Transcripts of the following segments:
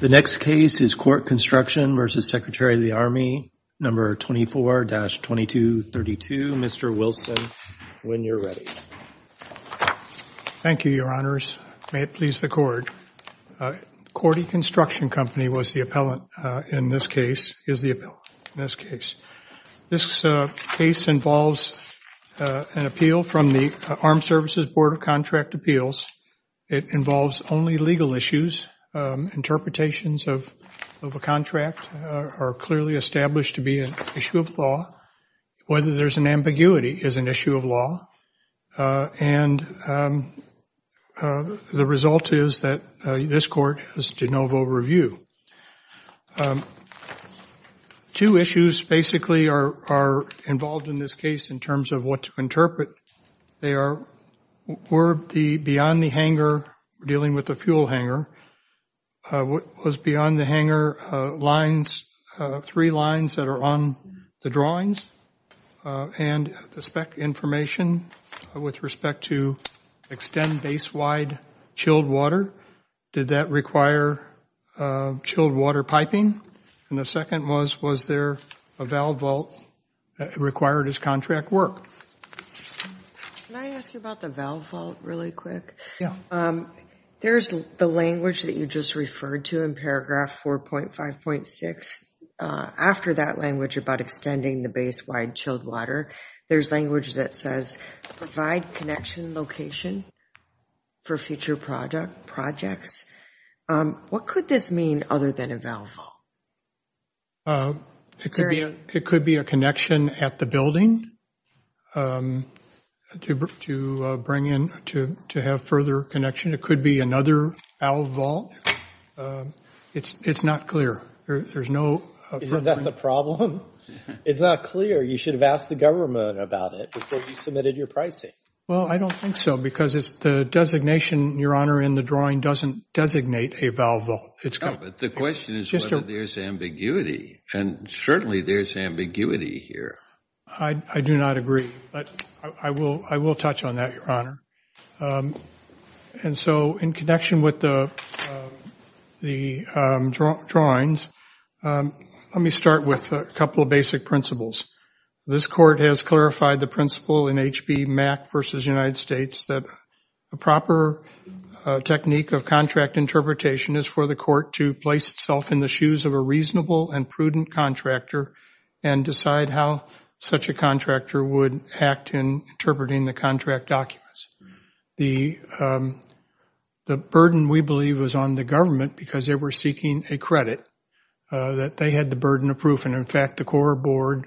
The next case is Korte Construction v. Secretary of the Army, No. 24-2232. Mr. Wilson, when you're ready. Thank you, Your Honors. May it please the Court. Korte Construction Company was the appellant in this case. This case involves an appeal from the Armed Services Board of Contract Appeals. It involves only legal issues. Interpretations of a contract are clearly established to be an issue of law. Whether there's an ambiguity is an issue of law, and the result is that this Court has de novo review. Two issues basically are involved in this case in terms of what to interpret. They are beyond the hangar, dealing with the fuel hangar, was beyond the hangar three lines that are on the drawings and the spec information with respect to extend base wide chilled water. Did that require chilled water piping? And the second was, was there a valve vault required as contract work? Can I ask you about the valve vault really quick? Yeah. There's the language that you just referred to in paragraph 4.5.6. After that language about extending the base wide chilled water, there's language that says provide connection location for future projects. What could this mean other than a valve vault? It could be a connection at the building to bring in, to have further connection. It could be another valve vault. It's not clear. Is that the problem? It's not clear. You should have asked the government about it before you submitted your pricing. Well, I don't think so because it's the designation, Your Honor, in the drawing doesn't designate a valve vault. No, but the question is whether there's ambiguity, and certainly there's ambiguity here. I do not agree, but I will touch on that, Your Honor. And so in connection with the drawings, let me start with a couple of basic principles. This court has clarified the principle in HB MAC v. United States that a proper technique of contract interpretation is for the court to place itself in the shoes of a reasonable and prudent contractor and decide how such a contractor would act in interpreting the contract documents. The burden, we believe, was on the government because they were seeking a credit, that they had the burden of proof, and, in fact, the core board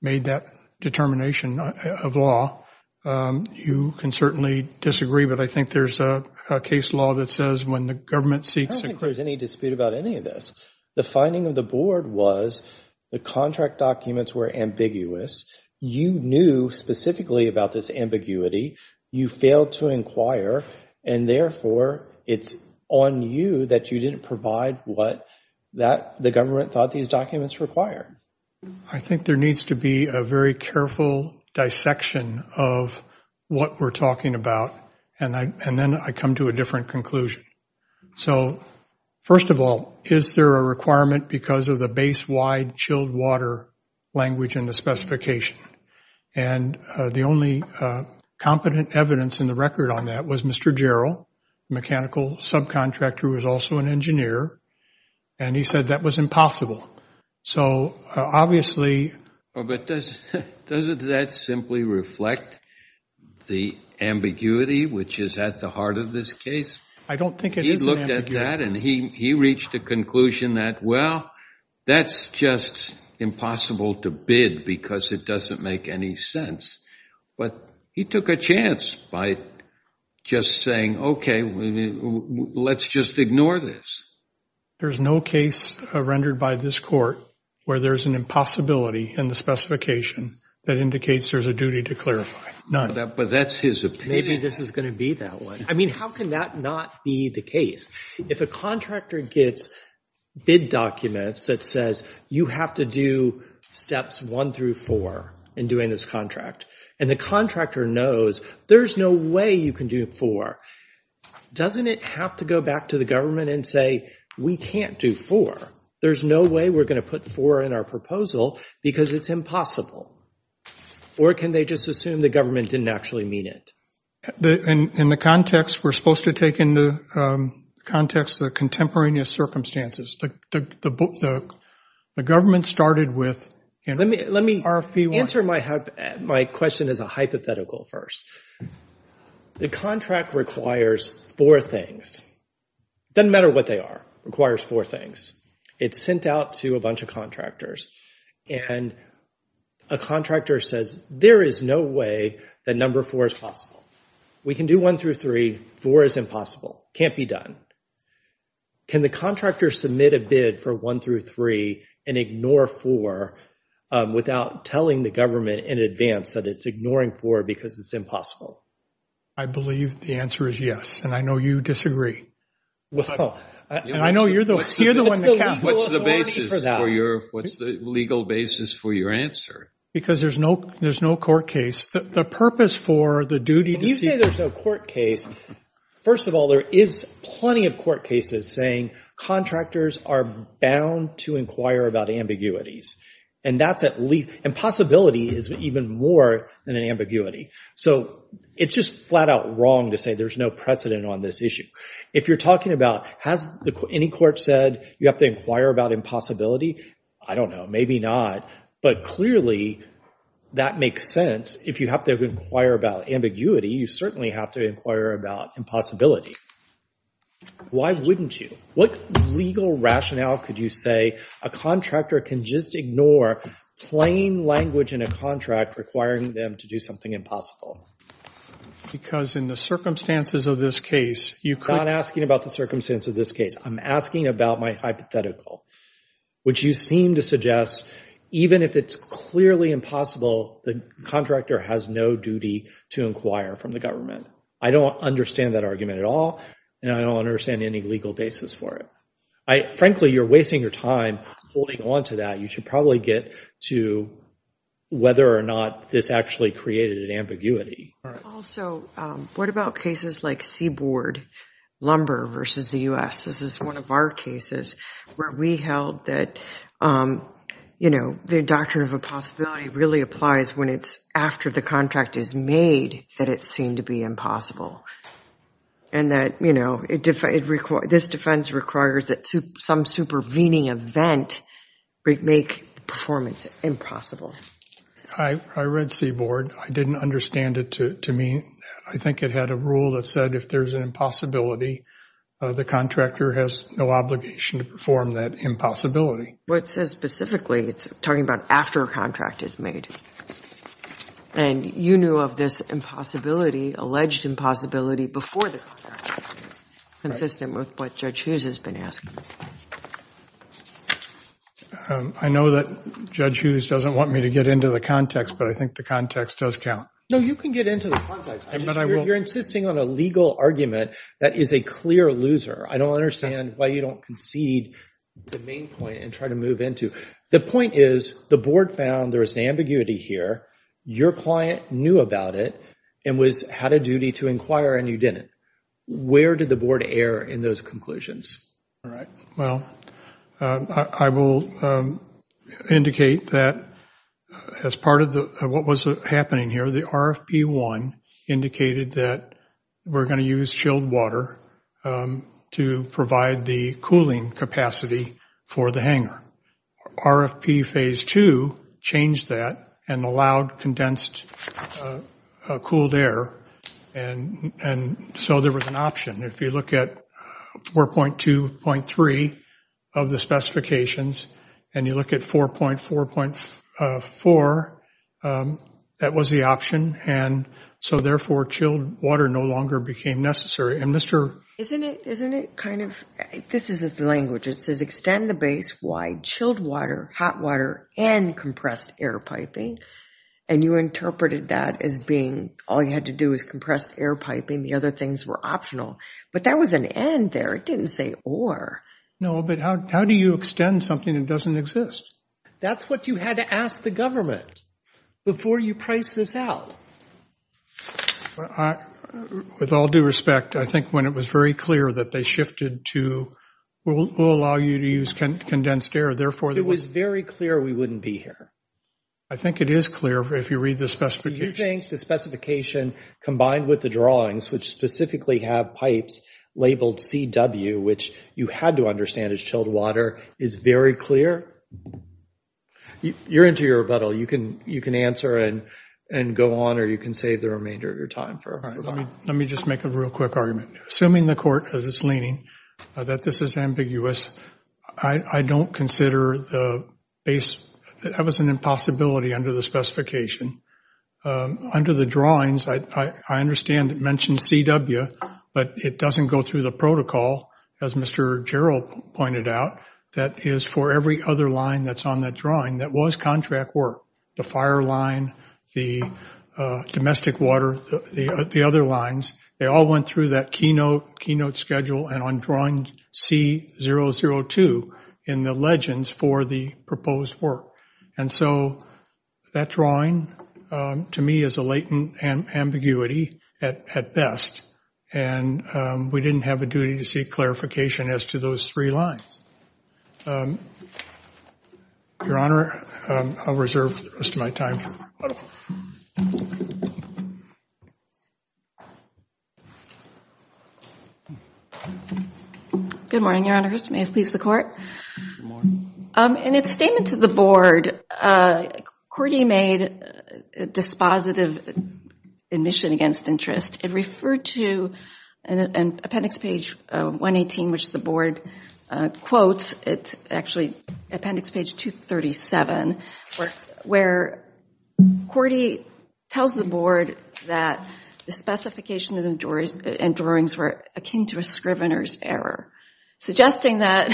made that determination of law. You can certainly disagree, but I think there's a case law that says when the government seeks a credit. I don't think there's any dispute about any of this. The finding of the board was the contract documents were ambiguous. You knew specifically about this ambiguity. You failed to inquire, and, therefore, it's on you that you didn't provide what the government thought these documents required. I think there needs to be a very careful dissection of what we're talking about, and then I come to a different conclusion. So, first of all, is there a requirement because of the base wide chilled water language in the specification? And the only competent evidence in the record on that was Mr. Jarrell, mechanical subcontractor who was also an engineer, and he said that was impossible. So, obviously. But doesn't that simply reflect the ambiguity which is at the heart of this case? I don't think it is an ambiguity. And he reached a conclusion that, well, that's just impossible to bid because it doesn't make any sense. But he took a chance by just saying, okay, let's just ignore this. There's no case rendered by this court where there's an impossibility in the specification that indicates there's a duty to clarify. None. Maybe this is going to be that one. I mean, how can that not be the case? If a contractor gets bid documents that says you have to do steps one through four in doing this contract, and the contractor knows there's no way you can do four, doesn't it have to go back to the government and say we can't do four? There's no way we're going to put four in our proposal because it's impossible. Or can they just assume the government didn't actually mean it? In the context, we're supposed to take into context the contemporaneous circumstances. The government started with RFP 1. Let me answer my question as a hypothetical first. The contract requires four things. It doesn't matter what they are. It requires four things. It's sent out to a bunch of contractors. And a contractor says there is no way that number four is possible. We can do one through three. Four is impossible. Can't be done. Can the contractor submit a bid for one through three and ignore four without telling the government in advance that it's ignoring four because it's impossible? I believe the answer is yes, and I know you disagree. I know you're the one that counts. What's the legal basis for your answer? Because there's no court case. The purpose for the duty to see. When you say there's no court case, first of all, there is plenty of court cases saying contractors are bound to inquire about ambiguities. And possibility is even more than an ambiguity. So it's just flat out wrong to say there's no precedent on this issue. If you're talking about has any court said you have to inquire about impossibility? I don't know. Maybe not. But clearly, that makes sense. If you have to inquire about ambiguity, you certainly have to inquire about impossibility. Why wouldn't you? What legal rationale could you say a contractor can just ignore plain language in a contract requiring them to do something impossible? Because in the circumstances of this case, you could. I'm not asking about the circumstances of this case. I'm asking about my hypothetical, which you seem to suggest even if it's clearly impossible, the contractor has no duty to inquire from the government. I don't understand that argument at all, and I don't understand any legal basis for it. Frankly, you're wasting your time holding on to that. You should probably get to whether or not this actually created an ambiguity. Also, what about cases like seaboard lumber versus the U.S.? This is one of our cases where we held that the doctrine of impossibility really applies when it's after the contract is made that it seemed to be impossible. This defense requires that some supervening event make performance impossible. I read seaboard. I didn't understand it to mean that. I think it had a rule that said if there's an impossibility, the contractor has no obligation to perform that impossibility. What it says specifically, it's talking about after a contract is made. And you knew of this impossibility, alleged impossibility, before the contract, consistent with what Judge Hughes has been asking. I know that Judge Hughes doesn't want me to get into the context, but I think the context does count. No, you can get into the context. You're insisting on a legal argument that is a clear loser. I don't understand why you don't concede the main point and try to move into it. The point is the board found there was an ambiguity here. Your client knew about it and had a duty to inquire, and you didn't. Where did the board err in those conclusions? All right. Well, I will indicate that as part of what was happening here, the RFP1 indicated that we're going to use chilled water to provide the cooling capacity for the hangar. RFP Phase 2 changed that and allowed condensed cooled air. And so there was an option. If you look at 4.2.3 of the specifications and you look at 4.4.4, that was the option. And so, therefore, chilled water no longer became necessary. Isn't it kind of, this isn't the language. It says extend the base, wide, chilled water, hot water, and compressed air piping. And you interpreted that as being all you had to do was compressed air piping. The other things were optional. But that was an and there. It didn't say or. No, but how do you extend something that doesn't exist? That's what you had to ask the government before you priced this out. With all due respect, I think when it was very clear that they shifted to, we'll allow you to use condensed air. Therefore, it was very clear we wouldn't be here. I think it is clear if you read the specifications. Do you think the specification combined with the drawings, which specifically have pipes labeled CW, which you had to understand is chilled water, is very clear? You're into your rebuttal. You can answer and go on, or you can save the remainder of your time. Let me just make a real quick argument. Assuming the court, as it's leaning, that this is ambiguous, I don't consider the base. That was an impossibility under the specification. Under the drawings, I understand it mentions CW, but it doesn't go through the protocol, as Mr. Jarrell pointed out, that is for every other line that's on that drawing that was contract work. The fire line, the domestic water, the other lines, they all went through that keynote schedule and on drawing C002 in the legends for the proposed work. That drawing, to me, is a latent ambiguity at best. We didn't have a duty to seek clarification as to those three lines. Your Honor, I'll reserve the rest of my time for rebuttal. Good morning, Your Honor. May it please the court. Good morning. In its statement to the board, Cordy made dispositive admission against interest. It referred to an appendix page 118, which the board quotes. It's actually appendix page 237, where Cordy tells the board that the specification and drawings were akin to a scrivener's error, suggesting that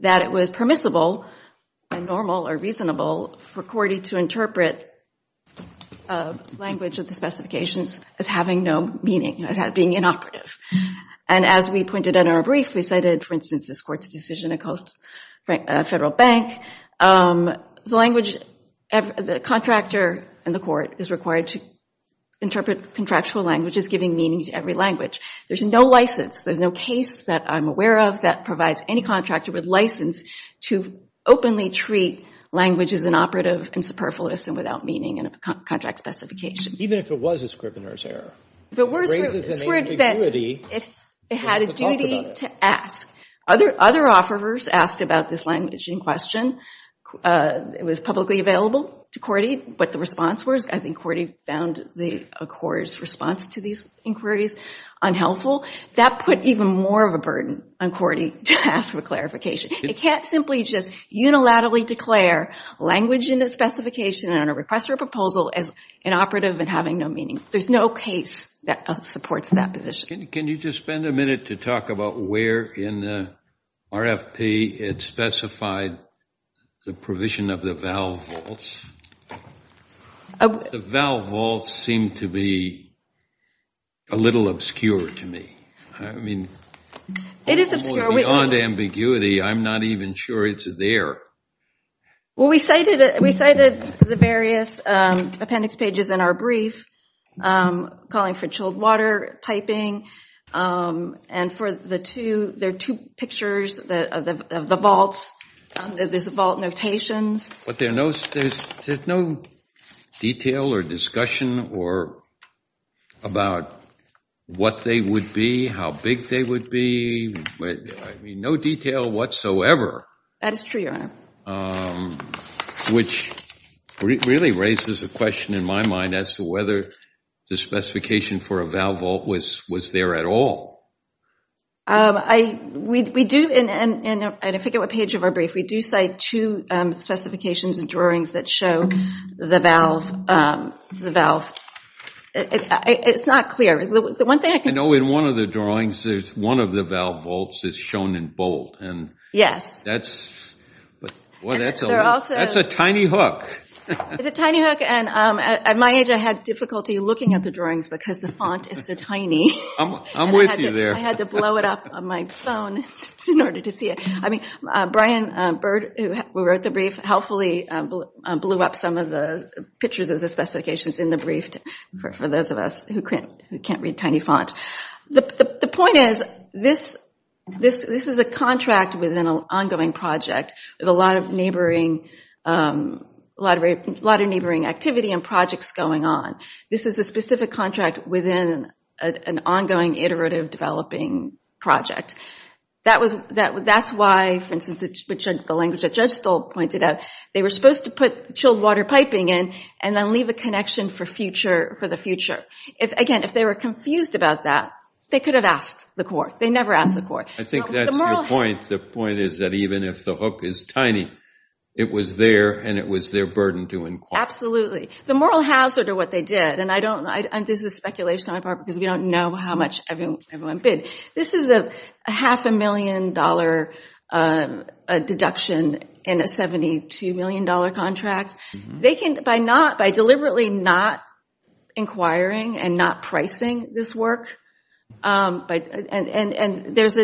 it was permissible and normal or reasonable for Cordy to interpret language of the specifications as having no meaning, as being inoperative. And as we pointed out in our brief, we cited, for instance, this court's decision at Coast Federal Bank. The contractor in the court is required to interpret contractual languages giving meaning to every language. There's no license. There's no case that I'm aware of that provides any contractor with license to openly treat language as inoperative and superfluous and without meaning in a contract specification. Even if it was a scrivener's error? If it were a scrivener's error, it had a duty to ask. Other offerers asked about this language in question. It was publicly available to Cordy. What the response was, I think Cordy found the acquirer's response to these inquiries unhelpful. That put even more of a burden on Cordy to ask for clarification. It can't simply just unilaterally declare language in a specification and on a request for a proposal as inoperative and having no meaning. There's no case that supports that position. Can you just spend a minute to talk about where in the RFP it specified the provision of the valve vaults? The valve vaults seem to be a little obscure to me. I mean, beyond ambiguity, I'm not even sure it's there. Well, we cited the various appendix pages in our brief, calling for chilled water, piping, and there are two pictures of the vaults. There's the vault notations. But there's no detail or discussion about what they would be, how big they would be. I mean, no detail whatsoever. That is true, Your Honor. Which really raises a question in my mind as to whether the specification for a valve vault was there at all. We do, and I forget what page of our brief, we do cite two specifications and drawings that show the valve. It's not clear. I know in one of the drawings, one of the valve vaults is shown in bold. Yes. That's a tiny hook. It's a tiny hook, and at my age, I had difficulty looking at the drawings because the font is so tiny. I'm with you there. I had to blow it up on my phone in order to see it. I mean, Brian Bird, who wrote the brief, helpfully blew up some of the pictures of the specifications in the brief for those of us who can't read tiny font. The point is, this is a contract within an ongoing project with a lot of neighboring activity and projects going on. This is a specific contract within an ongoing iterative developing project. That's why, for instance, the language that Judge Stoll pointed out, they were supposed to put chilled water piping in and then leave a connection for the future. Again, if they were confused about that, they could have asked the court. They never asked the court. I think that's your point. The point is that even if the hook is tiny, it was there and it was their burden to inquire. Absolutely. The moral hazard of what they did, and this is speculation on my part because we don't know how much everyone bid. This is a half a million dollar deduction in a $72 million contract. By deliberately not inquiring and not pricing this work, there's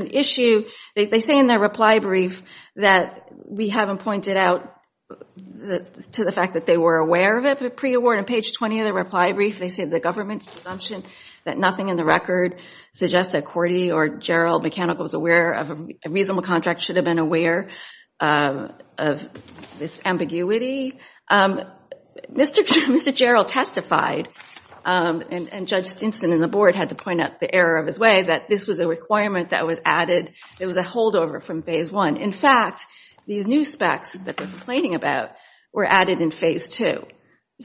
an issue. They say in their reply brief that we haven't pointed out to the fact that they were aware of it. Pre-award on page 20 of their reply brief, they say the government's presumption that nothing in the record suggests that a reasonable contract should have been aware of this ambiguity. Mr. Jarrell testified, and Judge Stinson and the board had to point out the error of his way, that this was a requirement that was added. It was a holdover from phase one. In fact, these new specs that they're complaining about were added in phase two,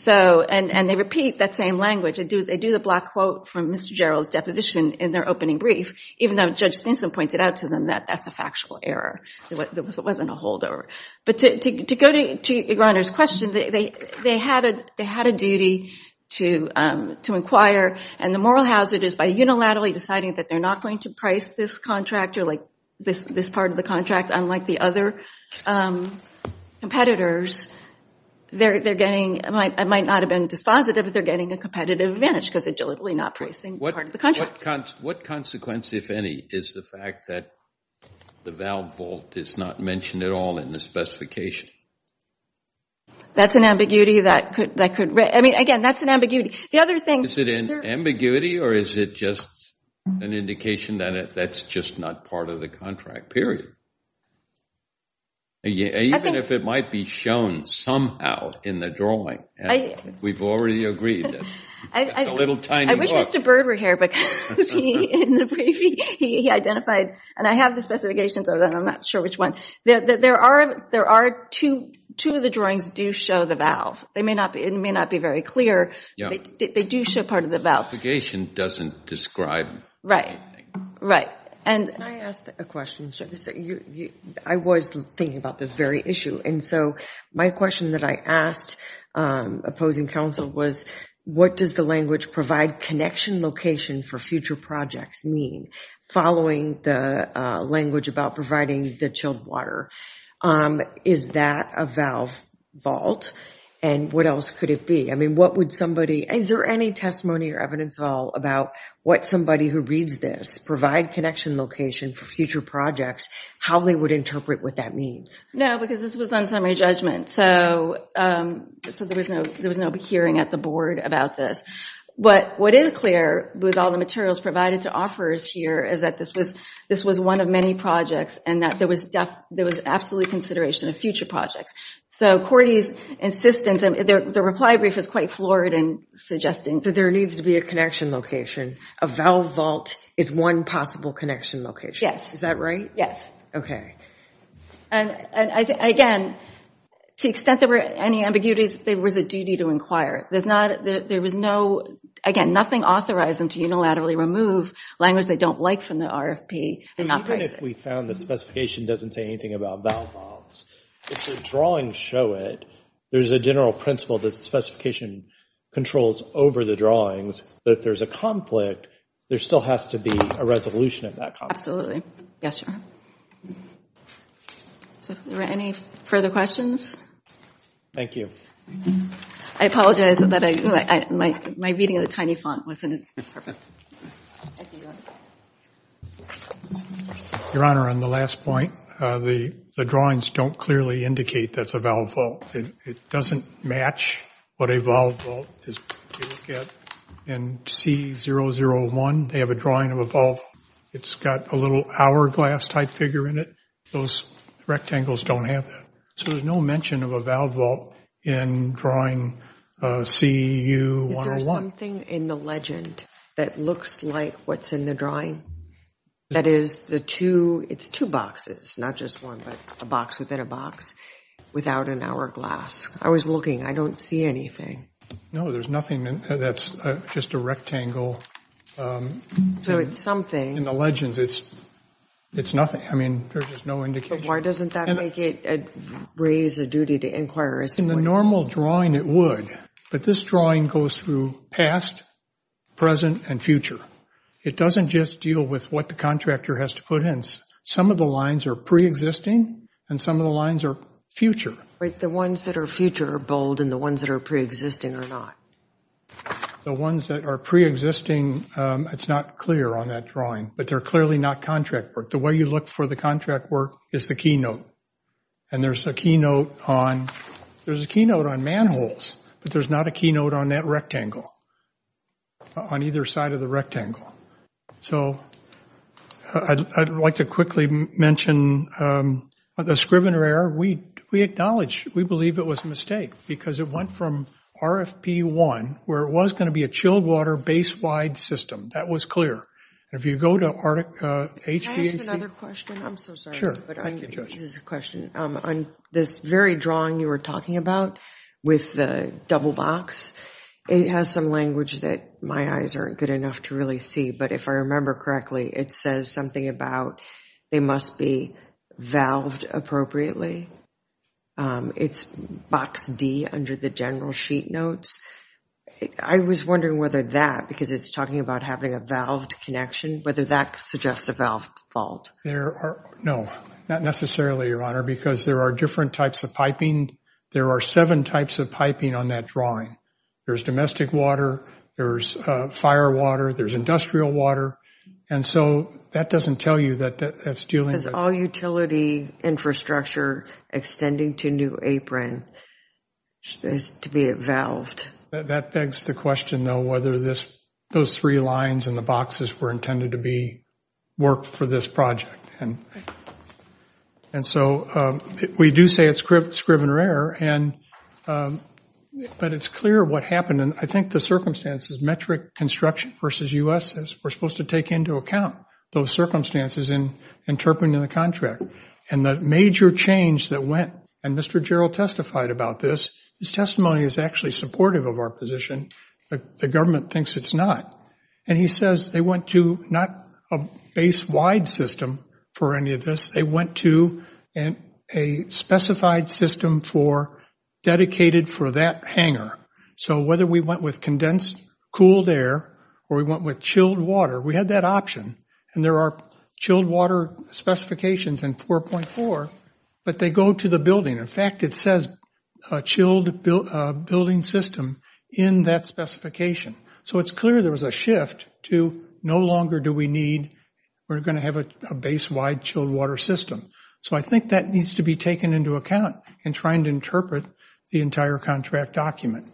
and they repeat that same language. They do the black quote from Mr. Jarrell's deposition in their opening brief, even though Judge Stinson pointed out to them that that's a factual error. It wasn't a holdover. But to go to your question, they had a duty to inquire, and the moral hazard is by unilaterally deciding that they're not going to price this contract, or this part of the contract, unlike the other competitors, it might not have been dispositive, but they're getting a competitive advantage because they're deliberately not pricing part of the contract. What consequence, if any, is the fact that the valve vault is not mentioned at all in the specification? That's an ambiguity. Again, that's an ambiguity. Is it an ambiguity, or is it just an indication that that's just not part of the contract, period? Even if it might be shown somehow in the drawing. We've already agreed. It's a little tiny book. I wish Mr. Bird were here, because he identified, and I have the specifications, although I'm not sure which one. There are two of the drawings that do show the valve. It may not be very clear, but they do show part of the valve. The specification doesn't describe anything. Right, right. Can I ask a question? I was thinking about this very issue, and so my question that I asked opposing counsel was, what does the language provide connection location for future projects mean, following the language about providing the chilled water? Is that a valve vault, and what else could it be? I mean, what would somebody – is there any testimony or evidence at all about what somebody who reads this, could provide connection location for future projects, how they would interpret what that means? No, because this was on summary judgment, so there was no hearing at the board about this. But what is clear with all the materials provided to offerors here is that this was one of many projects and that there was absolute consideration of future projects. So Cordy's insistence, and the reply brief is quite floored in suggesting that there needs to be a connection location. A valve vault is one possible connection location. Yes. Is that right? Yes. And, again, to the extent there were any ambiguities, there was a duty to inquire. There was no – again, nothing authorized them to unilaterally remove language they don't like from the RFP and not price it. Even if we found the specification doesn't say anything about valve vaults, if the drawings show it, there's a general principle that the specification controls over the drawings. But if there's a conflict, there still has to be a resolution of that conflict. Absolutely. Yes, sir. Are there any further questions? Thank you. I apologize, but my reading of the tiny font wasn't perfect. Your Honor, on the last point, the drawings don't clearly indicate that's a valve vault. It doesn't match what a valve vault is. In C001, they have a drawing of a vault. It's got a little hourglass-type figure in it. Those rectangles don't have that. So there's no mention of a valve vault in drawing CU101. Is there something in the legend that looks like what's in the drawing? That is the two – it's two boxes, not just one, but a box within a box without an hourglass. I was looking. I don't see anything. No, there's nothing. That's just a rectangle. So it's something. In the legends, it's nothing. I mean, there's just no indication. But why doesn't that make it raise a duty to inquire as to what it is? It's in the normal drawing it would. But this drawing goes through past, present, and future. It doesn't just deal with what the contractor has to put in. Some of the lines are preexisting, and some of the lines are future. The ones that are future are bold, and the ones that are preexisting are not. The ones that are preexisting, it's not clear on that drawing. But they're clearly not contract work. The way you look for the contract work is the keynote. And there's a keynote on manholes, but there's not a keynote on that rectangle, on either side of the rectangle. So I'd like to quickly mention the Scrivener error. We acknowledge. We believe it was a mistake because it went from RFP1, where it was going to be a chilled water base-wide system. That was clear. If you go to HVAC – Can I ask another question? I'm so sorry. Sure. This is a question. On this very drawing you were talking about with the double box, it has some language that my eyes aren't good enough to really see. But if I remember correctly, it says something about they must be valved appropriately. It's box D under the general sheet notes. I was wondering whether that, because it's talking about having a valved connection, whether that suggests a valve fault. No, not necessarily, Your Honor, because there are different types of piping. There are seven types of piping on that drawing. There's domestic water. There's fire water. There's industrial water. And so that doesn't tell you that that's dealing with – Because all utility infrastructure extending to New Apron is to be valved. That begs the question, though, whether those three lines and the boxes were intended to be worked for this project. And so we do say it's scrivener error. But it's clear what happened. And I think the circumstances, metric construction versus U.S. were supposed to take into account those circumstances interpreted in the contract. And the major change that went – and Mr. Jarrell testified about this. His testimony is actually supportive of our position. The government thinks it's not. And he says they went to not a base-wide system for any of this. They went to a specified system dedicated for that hangar. So whether we went with condensed cooled air or we went with chilled water, we had that option. And there are chilled water specifications in 4.4, but they go to the building. In fact, it says chilled building system in that specification. So it's clear there was a shift to no longer do we need – we're going to have a base-wide chilled water system. So I think that needs to be taken into account in trying to interpret the entire contract document.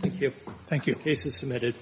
Thank you. Thank you. Case is submitted.